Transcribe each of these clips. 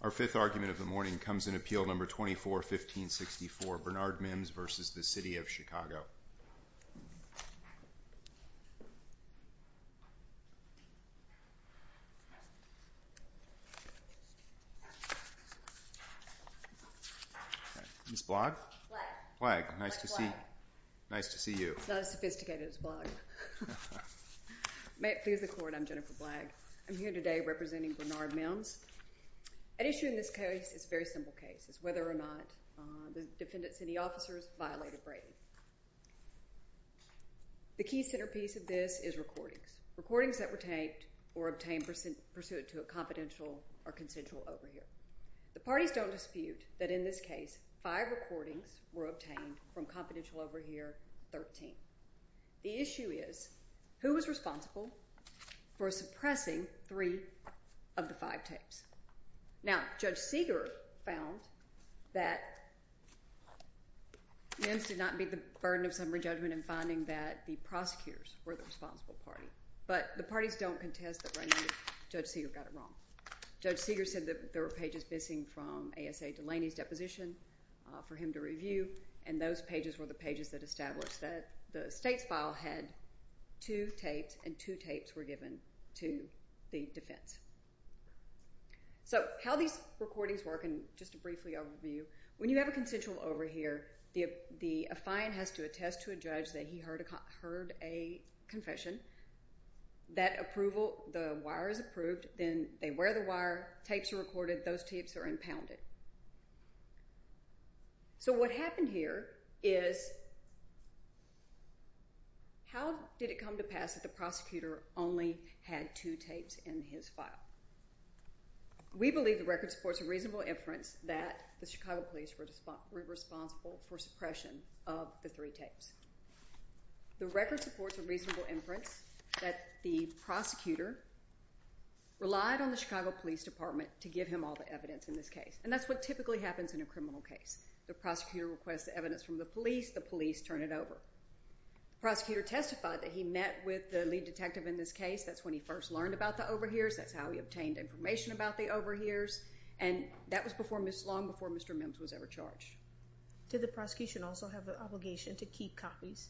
Our fifth argument of the morning comes in Appeal No. 24-1564, Bernard Mims v. City of Chicago. Ms. Blagg? Blagg. Blagg. Nice to see you. It's not as sophisticated as Blagg. May it please the Court, I'm Jennifer Blagg. I'm here today representing Bernard Mims. An issue in this case is a very simple case. It's whether or not the defendant's city officers violated Brady. The key centerpiece of this is recordings. Recordings that were taped or obtained pursuant to a confidential or consensual overhear. The parties don't dispute that in this case five recordings were obtained from confidential overhear 13. The issue is who was responsible for suppressing three of the five tapes. Now Judge Seeger found that Mims did not meet the burden of summary judgment in finding that the prosecutors were the responsible party. But the parties don't contest that right now Judge Seeger got it wrong. Judge Seeger said that there were pages missing from A.S.A. Delaney's deposition for him to review and those pages were the pages that established that the state's file had two tapes and two tapes were given to the defense. So how these recordings work and just a briefly overview. When you have a consensual overhear, the affine has to attest to a judge that he heard a confession. That approval, the wire is approved, then they wear the wire, tapes are recorded, those tapes are impounded. So what happened here is how did it come to pass that the prosecutor only had two tapes in his file? We believe the record supports a reasonable inference that the Chicago Police were responsible for suppression of the three tapes. The record supports a reasonable inference that the prosecutor relied on the Chicago Police Department to give him all the evidence in this case. And that's what typically happens in a criminal case. The prosecutor requests the evidence from the police, the police turn it over. The prosecutor testified that he met with the lead detective in this case, that's when he first learned about the overhears, that's how he obtained information about the overhears and that was long before Mr. Mims was ever charged. Did the prosecution also have the obligation to keep copies?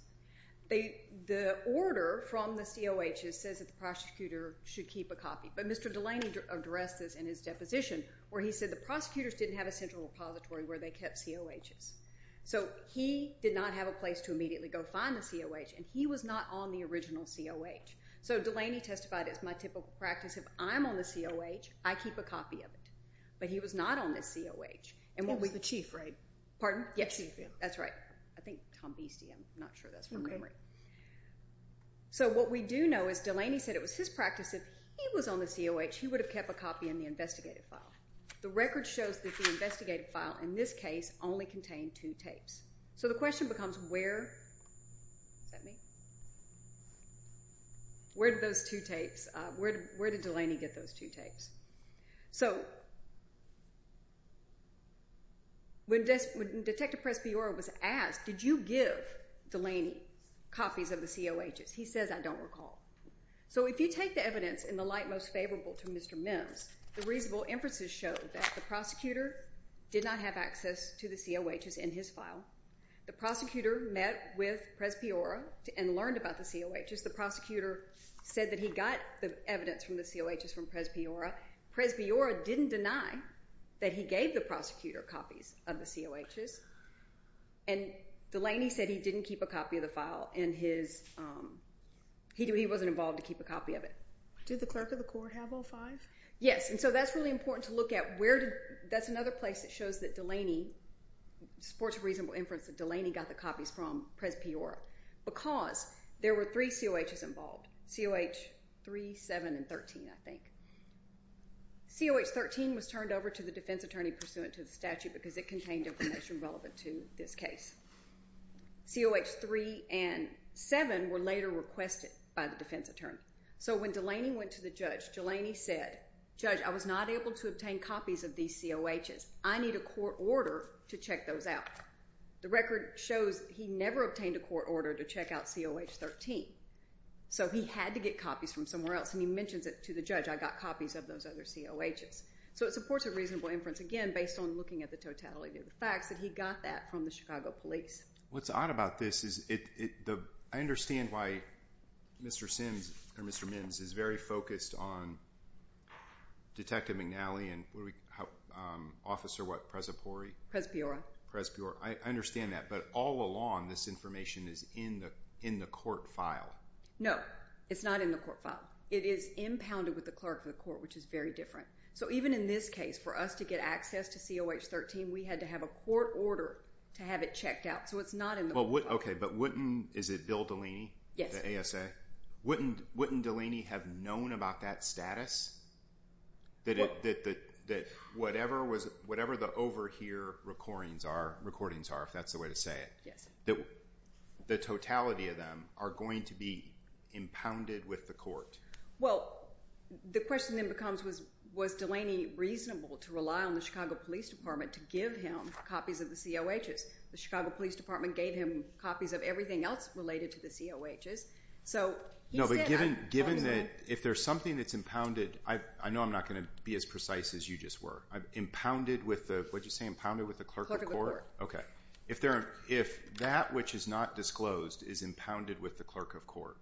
The order from the COH says that the prosecutor should keep a copy. But Mr. Delaney addressed this in his deposition where he said the prosecutors didn't have a central repository where they kept COHs. So he did not have a place to immediately go find the COH and he was not on the original COH. So Delaney testified, it's my typical practice if I'm on the COH, I keep a copy of it. But he was not on the COH. He was the chief, right? Pardon? The chief. That's right. I think Tom Beastie, I'm not sure that's from Comrie. So what we do know is Delaney said it was his practice if he was on the COH, he would have kept a copy in the investigative file. The record shows that the investigative file in this case only contained two tapes. So the question becomes where, is that me? Where did those two tapes, where did Delaney get those two tapes? So when Detective Prespiora was asked, did you give Delaney copies of the COHs? He says, I don't recall. So if you take the evidence in the light most favorable to Mr. Mims, the reasonable inferences show that the prosecutor did not have access to the COHs in his file. The prosecutor met with Prespiora and learned about the COHs. The prosecutor said that he got the evidence from the COHs from Prespiora. Prespiora didn't deny that he gave the prosecutor copies of the COHs. And Delaney said he didn't keep a copy of the file. He wasn't involved to keep a copy of it. Did the clerk of the court have all five? Yes. And so that's really important to look at. That's another place that shows that Delaney, supports reasonable inference that Delaney got the copies from Prespiora. Because there were three COHs involved, COH 3, 7, and 13, I think. COH 13 was turned over to the defense attorney pursuant to the statute because it contained information relevant to this case. COH 3 and 7 were later requested by the defense attorney. So when Delaney went to the judge, Delaney said, judge, I was not able to obtain copies of these COHs. I need a court order to check those out. The record shows he never obtained a court order to check out COH 13. So he had to get copies from somewhere else. And he mentions it to the judge, I got copies of those other COHs. So it supports a reasonable inference, again, based on looking at the totality of the facts, that he got that from the Chicago police. What's odd about this is I understand why Mr. Simms, or Mr. Minns, is very focused on the COHs. I understand that. But all along, this information is in the court file. No. It's not in the court file. It is impounded with the clerk of the court, which is very different. So even in this case, for us to get access to COH 13, we had to have a court order to have it checked out. So it's not in the court file. Okay, but wouldn't, is it Bill Delaney, the ASA, wouldn't Delaney have known about that status, that whatever the overhear recordings are, if that's the way to say it, that the totality of them are going to be impounded with the court? Well, the question then becomes, was Delaney reasonable to rely on the Chicago Police Department to give him copies of the COHs? The Chicago Police Department gave him copies of everything else related to the COHs. No, but given that if there's something that's impounded, I know I'm not going to be as precise as you just were. Impounded with the, what did you say, impounded with the clerk of court? Okay. If that which is not disclosed is impounded with the clerk of court,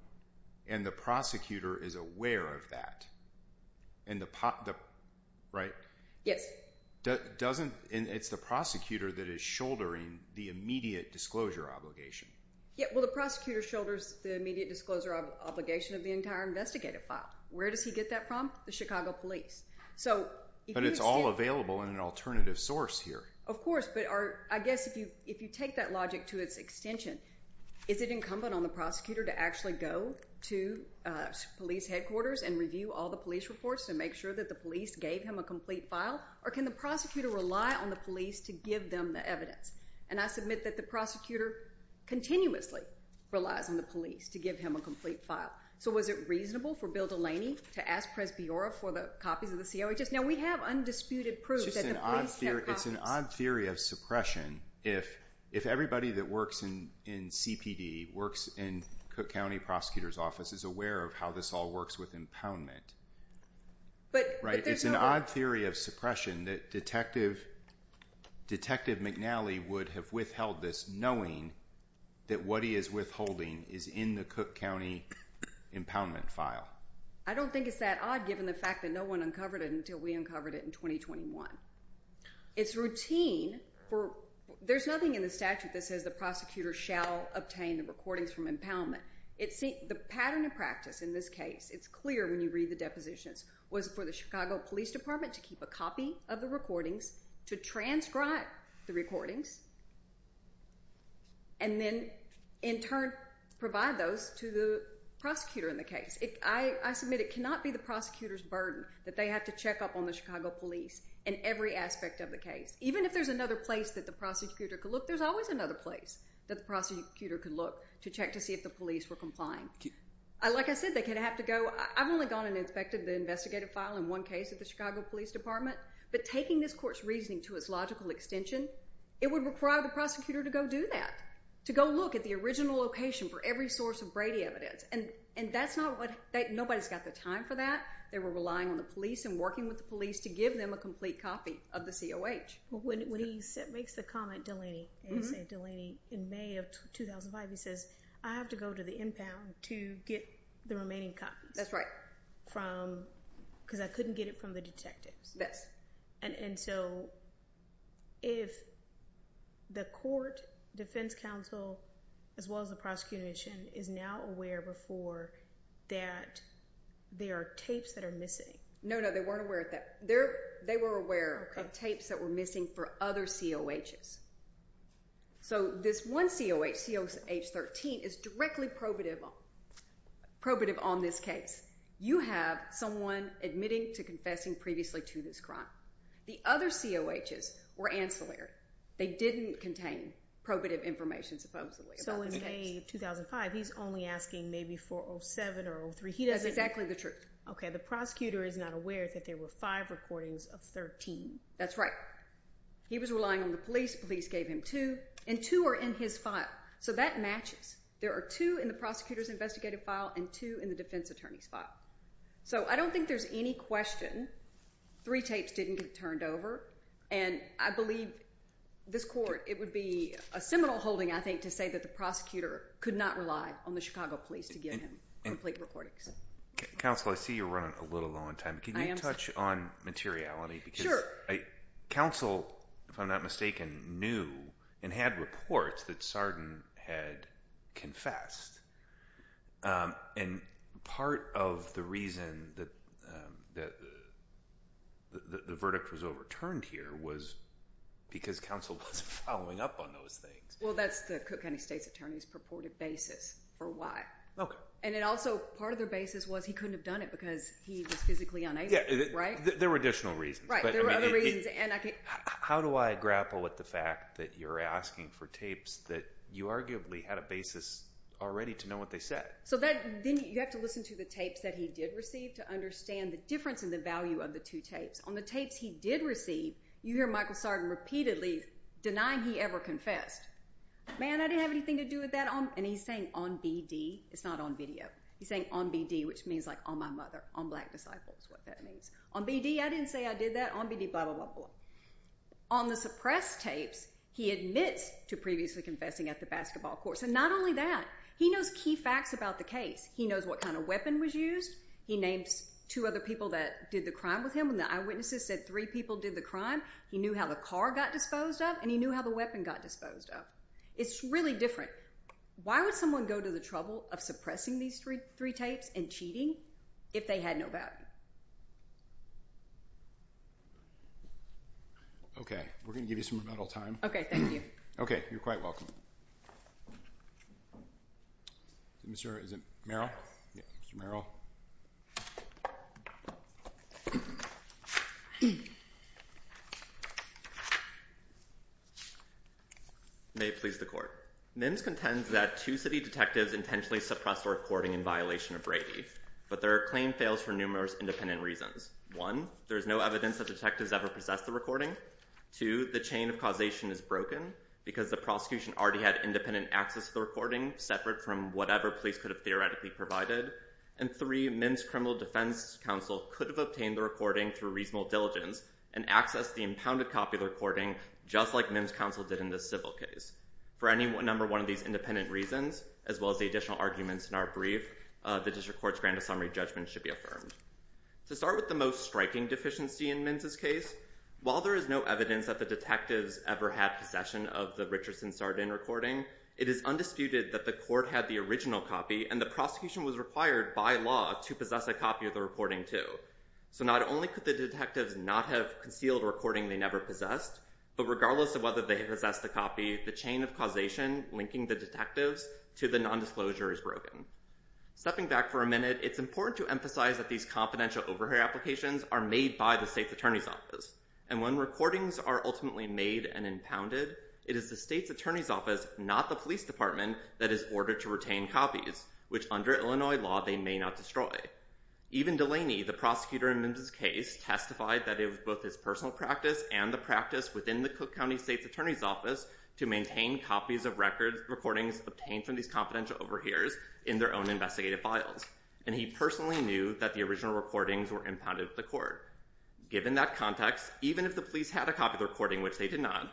and the prosecutor is aware of that, and the, right? Yes. Doesn't, and it's the prosecutor that is shouldering the immediate disclosure obligation. Yeah, well, the prosecutor shoulders the immediate disclosure obligation of the entire investigative file. Where does he get that from? The Chicago Police. So, if you... But it's all available in an alternative source here. Of course, but our, I guess if you take that logic to its extension, is it incumbent on the prosecutor to actually go to police headquarters and review all the police reports to make sure that the police gave him a complete file, or can the prosecutor rely on the police to give them the evidence? And I submit that the prosecutor continuously relies on the police to give him a complete file. So, was it reasonable for Bill Delaney to ask Pres Biora for the copies of the COHS? Now, we have undisputed proof that the police have copies. It's an odd theory of suppression if everybody that works in CPD, works in Cook County Prosecutor's Office, is aware of how this all works with impoundment, right? It's an odd theory of suppression that Detective McNally would have withheld this knowing that what he is withholding is in the Cook County impoundment file. I don't think it's that odd given the fact that no one uncovered it until we uncovered it in 2021. It's routine for, there's nothing in the statute that says the prosecutor shall obtain the recordings from impoundment. The pattern of practice in this case, it's clear when you read the depositions, was for the Chicago Police Department to keep a copy of the recordings, to transcribe the recordings, and then, in turn, provide those to the prosecutor in the case. I submit it cannot be the prosecutor's burden that they have to check up on the Chicago Police in every aspect of the case. Even if there's another place that the prosecutor could look, there's always another place that the prosecutor could look to check to see if the police were complying. Like I said, they could have to go, I've only gone and inspected the investigative file in one case at the Chicago Police Department, but taking this court's reasoning to its logical extension, it would require the prosecutor to go do that, to go look at the original location for every source of Brady evidence. That's not what, nobody's got the time for that. They were relying on the police and working with the police to give them a complete copy of the COH. When he makes the comment, Delaney, in May of 2005, he says, I have to go to the impound to get the remaining copies. That's right. From, because I couldn't get it from the detectives. Yes. And so, if the court, defense counsel, as well as the prosecution is now aware before that there are tapes that are missing. No, no, they weren't aware of that. They were aware of tapes that were missing for other COHs. So, this one COH, COH 13, is directly probative on this case. You have someone admitting to confessing previously to this crime. The other COHs were ancillary. They didn't contain probative information, supposedly, about this case. So, in May of 2005, he's only asking maybe for 07 or 03. That's exactly the truth. Okay. The prosecutor is not aware that there were five recordings of 13. That's right. He was relying on the police. Police gave him two. And two are in his file. So, that matches. There are two in the prosecutor's investigative file and two in the defense attorney's file. So, I don't think there's any question three tapes didn't get turned over. And I believe this court, it would be a seminal holding, I think, to say that the prosecutor could not rely on the Chicago police to give him complete recordings. Counsel, I see you're running a little low on time. I am. Can you touch on materiality? Sure. Counsel, if I'm not mistaken, knew and had reports that Sarden had confessed. And part of the reason that the verdict was overturned here was because Counsel wasn't following up on those things. Well, that's the Cook County State's Attorney's purported basis for why. Okay. And it also, part of their basis was he couldn't have done it because he was physically unable. Yeah. Right? There were additional reasons. There were other reasons. How do I grapple with the fact that you're asking for tapes that you arguably had a basis already to know what they said? So, then you have to listen to the tapes that he did receive to understand the difference in the value of the two tapes. On the tapes he did receive, you hear Michael Sarden repeatedly denying he ever confessed. Man, I didn't have anything to do with that. And he's saying on BD. It's not on video. He's saying on BD, which means like on my mother, on black disciples, what that means. On BD, I didn't say I did that. On BD, blah, blah, blah, blah. On the suppressed tapes, he admits to previously confessing at the basketball course. And not only that, he knows key facts about the case. He knows what kind of weapon was used. He names two other people that did the crime with him and the eyewitnesses said three people did the crime. He knew how the car got disposed of and he knew how the weapon got disposed of. It's really different. Why would someone go to the trouble of suppressing these three tapes and cheating if they had no value? Okay. We're going to give you some rebuttal time. Okay. Thank you. Okay. You're quite welcome. Is it Mr. Merrill? Yeah. Mr. Merrill. May it please the court. NIMS contends that two city detectives intentionally suppressed a recording in violation of Brady, but their claim fails for numerous independent reasons. One, there's no evidence that detectives ever possessed the recording. Two, the chain of causation is broken because the prosecution already had independent access to the recording separate from whatever police could have theoretically provided. And three, NIMS criminal defense counsel could have obtained the recording through reasonable diligence and accessed the impounded copy of the recording just like NIMS counsel did in the civil case. For any number one of these independent reasons, as well as the additional arguments in our brief, the district court's grand summary judgment should be affirmed. To start with the most striking deficiency in NIMS' case, while there is no evidence that the detectives ever had possession of the Richardson-Sardin recording, it is undisputed that the court had the original copy and the prosecution was required by law to possess a copy of the recording too. So not only could the detectives not have concealed a recording they never possessed, but regardless of whether they possessed the copy, the chain of causation linking the detectives to the nondisclosure is broken. Stepping back for a minute, it's important to emphasize that these confidential overhear applications are made by the state's attorney's office, and when recordings are ultimately made and impounded, it is the state's attorney's office, not the police department, that is ordered to retain copies, which under Illinois law they may not destroy. Even Delaney, the prosecutor in NIMS' case, testified that it was both his personal practice and the practice within the Cook County state's attorney's office to maintain copies of the recordings obtained from these confidential overhears in their own investigative files, and he personally knew that the original recordings were impounded at the court. Given that context, even if the police had a copy of the recording, which they did not,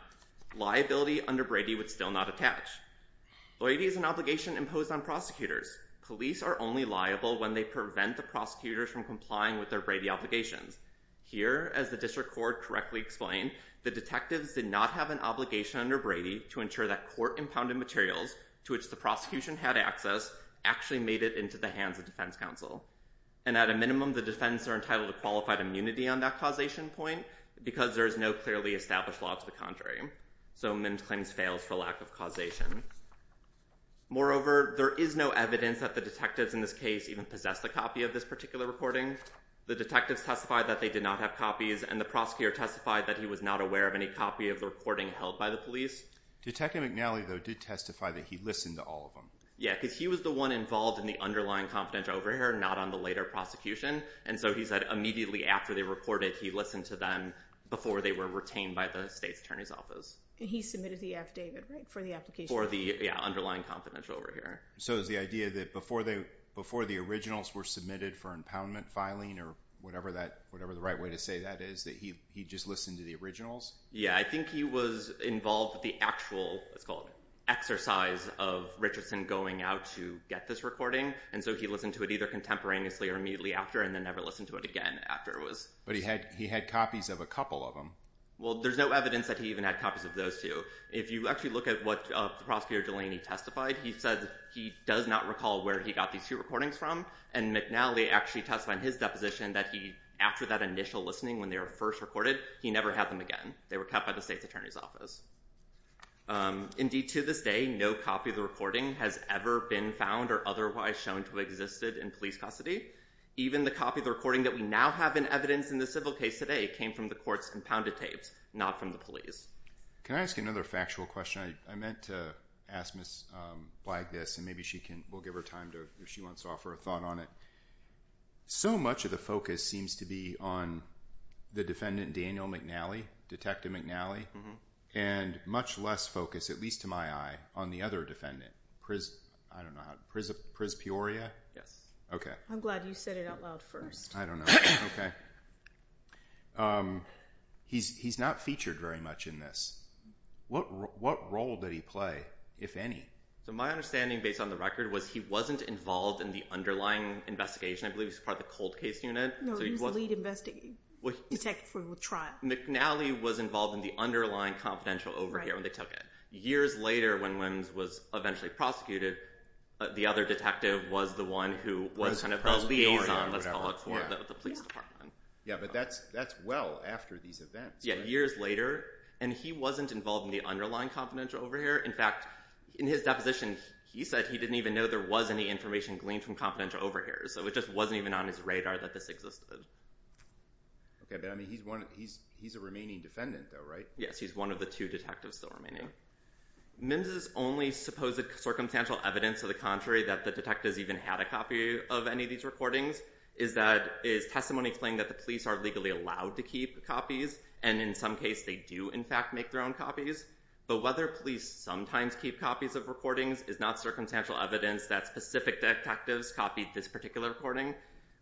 liability under Brady would still not attach. Loyalty is an obligation imposed on prosecutors. Police are only liable when they prevent the prosecutors from complying with their Brady obligations. Here, as the district court correctly explained, the detectives did not have an obligation under Brady to ensure that court-impounded materials to which the prosecution had access actually made it into the hands of defense counsel. And at a minimum, the defense are entitled to qualified immunity on that causation point because there is no clearly established law to the contrary. So NIMS claims fails for lack of causation. Moreover, there is no evidence that the detectives in this case even possessed a copy of this particular recording. The detectives testified that they did not have copies, and the prosecutor testified that he was not aware of any copy of the recording held by the police. Detective McNally, though, did testify that he listened to all of them. Yeah, because he was the one involved in the underlying confidential overhear, not on the later prosecution. And so he said immediately after they reported, he listened to them before they were retained by the state's attorney's office. And he submitted the affidavit, right, for the application? For the underlying confidential overhear. So is the idea that before the originals were submitted for impoundment filing or whatever the right way to say that is, that he just listened to the originals? Yeah, I think he was involved with the actual exercise of Richardson going out to get this recording. And so he listened to it either contemporaneously or immediately after and then never listened to it again after it was submitted. But he had copies of a couple of them. Well, there's no evidence that he even had copies of those two. If you actually look at what the prosecutor Delaney testified, he said he does not recall where he got these two recordings from. And McNally actually testified in his deposition that he, after that initial listening when they were first recorded, he never had them again. They were kept by the state's attorney's office. Indeed, to this day, no copy of the recording has ever been found or otherwise shown to have existed in police custody. Even the copy of the recording that we now have in evidence in the civil case today came from the court's impounded tapes, not from the police. Can I ask you another factual question? I meant to ask Ms. Blagg this, and maybe she can, we'll give her time to, if she wants to offer a thought on it. So much of the focus seems to be on the defendant, Daniel McNally, Detective McNally, and much less focus, at least to my eye, on the other defendant, Pris, I don't know how, Pris Pioria? Yes. Okay. I'm glad you said it out loud first. I don't know. Okay. He's not featured very much in this. What role did he play, if any? So my understanding, based on the record, was he wasn't involved in the underlying investigation. I believe he was part of the cold case unit. No, he was the lead detective for the trial. McNally was involved in the underlying confidential overhear when they took it. Years later, when Wims was eventually prosecuted, the other detective was the one who was kind of the liaison, let's call it, for the police department. Yeah, but that's well after these events. Yeah, years later, and he wasn't involved in the underlying confidential overhear. In fact, in his deposition, he said he didn't even know there was any information gleaned from confidential overhears, so it just wasn't even on his radar that this existed. Okay, but I mean, he's a remaining defendant, though, right? Yes, he's one of the two detectives still remaining. Wims' only supposed circumstantial evidence, to the contrary, that the detectives even had a copy of any of these recordings, is that his testimony explained that the police aren't legally allowed to keep copies, and in some case, they do, in fact, make their own copies. But whether police sometimes keep copies of recordings is not circumstantial evidence that specific detectives copied this particular recording.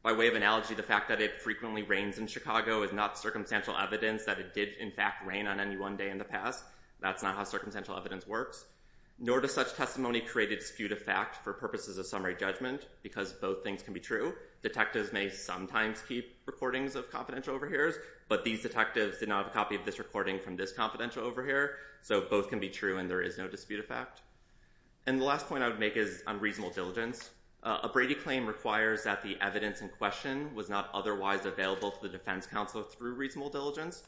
By way of analogy, the fact that it frequently rains in Chicago is not circumstantial evidence that it did, in fact, rain on any one day in the past. That's not how circumstantial evidence works. Nor does such testimony create a dispute of fact for purposes of summary judgment, because both things can be true. Detectives may sometimes keep recordings of confidential overhears, but these detectives did not have a copy of this recording from this confidential overhear, so both can be true and there is no dispute of fact. And the last point I would make is on reasonable diligence. A Brady claim requires that the evidence in question was not otherwise available to the defense counsel through reasonable diligence.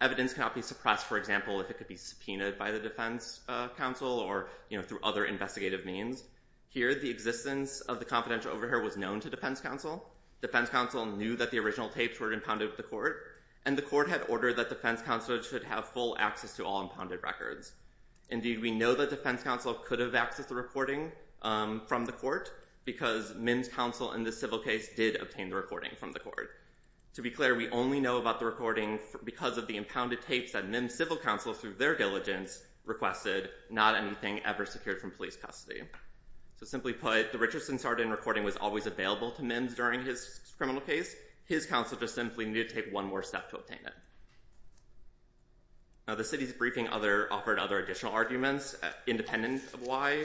Evidence cannot be suppressed, for example, if it could be subpoenaed by the defense counsel or, you know, through other investigative means. Here, the existence of the confidential overhear was known to defense counsel. Defense counsel knew that the original tapes were impounded at the court, and the court had ordered that defense counsel should have full access to all impounded records. Indeed, we know that defense counsel could have accessed the recording from the court, because Mims' counsel in this civil case did obtain the recording from the court. To be clear, we only know about the recording because of the impounded tapes that Mims' civil counsel, through their diligence, requested, not anything ever secured from police custody. So simply put, the Richardson-Sardin recording was always available to Mims' during his criminal case. His counsel just simply needed to take one more step to obtain it. Now, the city's briefing offered other additional arguments, independent of why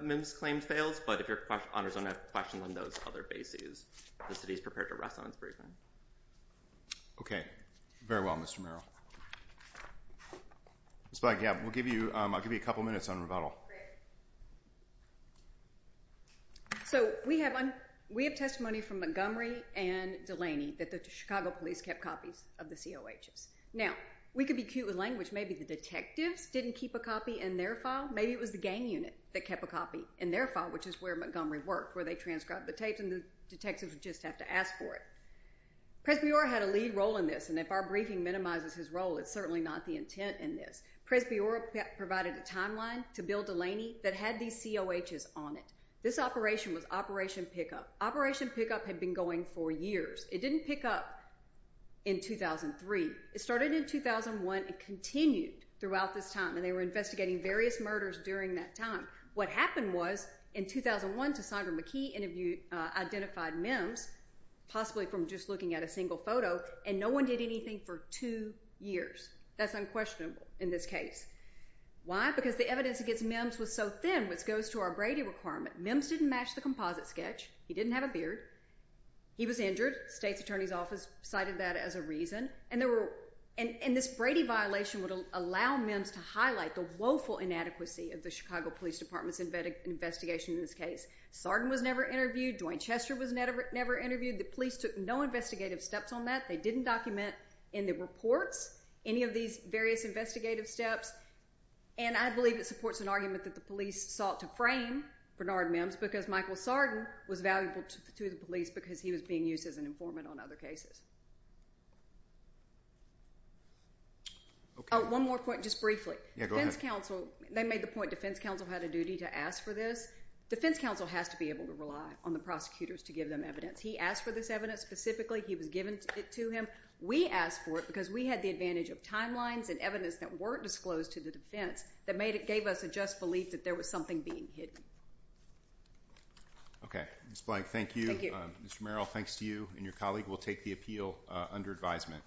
Mims' claim fails, but if your honors don't have questions on those other bases, the city is prepared to rest on its briefing. Okay. Very well, Mr. Merrill. Ms. Black, yeah, I'll give you a couple minutes on rebuttal. Great. So we have testimony from Montgomery and Delaney that the Chicago police kept copies of the COHs. Now, we could be cute with language. Maybe the detectives didn't keep a copy in their file. Maybe it was the gang unit that kept a copy in their file, which is where Montgomery worked, where they transcribed the tapes, and the detectives would just have to ask for it. Presbyora had a lead role in this, and if our briefing minimizes his role, it's certainly not the intent in this. Presbyora provided a timeline to Bill Delaney that had these COHs on it. This operation was Operation Pickup. Operation Pickup had been going for years. It didn't pick up in 2003. It started in 2001 and continued throughout this time, and they were investigating various murders during that time. What happened was, in 2001, to Sondra McKee identified Mims, possibly from just looking at a single photo, and no one did anything for two years. That's unquestionable in this case. Because the evidence against Mims was so thin, which goes to our Brady requirement. Mims didn't match the composite sketch. He didn't have a beard. He was injured. The state's attorney's office cited that as a reason, and this Brady violation would allow Mims to highlight the woeful inadequacy of the Chicago Police Department's investigation in this case. Sarden was never interviewed. Dwayne Chester was never interviewed. The police took no investigative steps on that. They didn't document in the reports any of these various investigative steps, and I believe it supports an argument that the police sought to frame Bernard Mims because Michael Sarden was valuable to the police because he was being used as an informant on other cases. Oh, one more point, just briefly. Defense counsel, they made the point defense counsel had a duty to ask for this. Defense counsel has to be able to rely on the prosecutors to give them evidence. He asked for this evidence specifically. He was given it to him. We asked for it because we had the advantage of timelines and evidence that weren't disclosed to the defense that gave us a just belief that there was something being hidden. Okay. Ms. Blank, thank you. Mr. Merrill, thanks to you and your colleague. We'll take the appeal under advisement.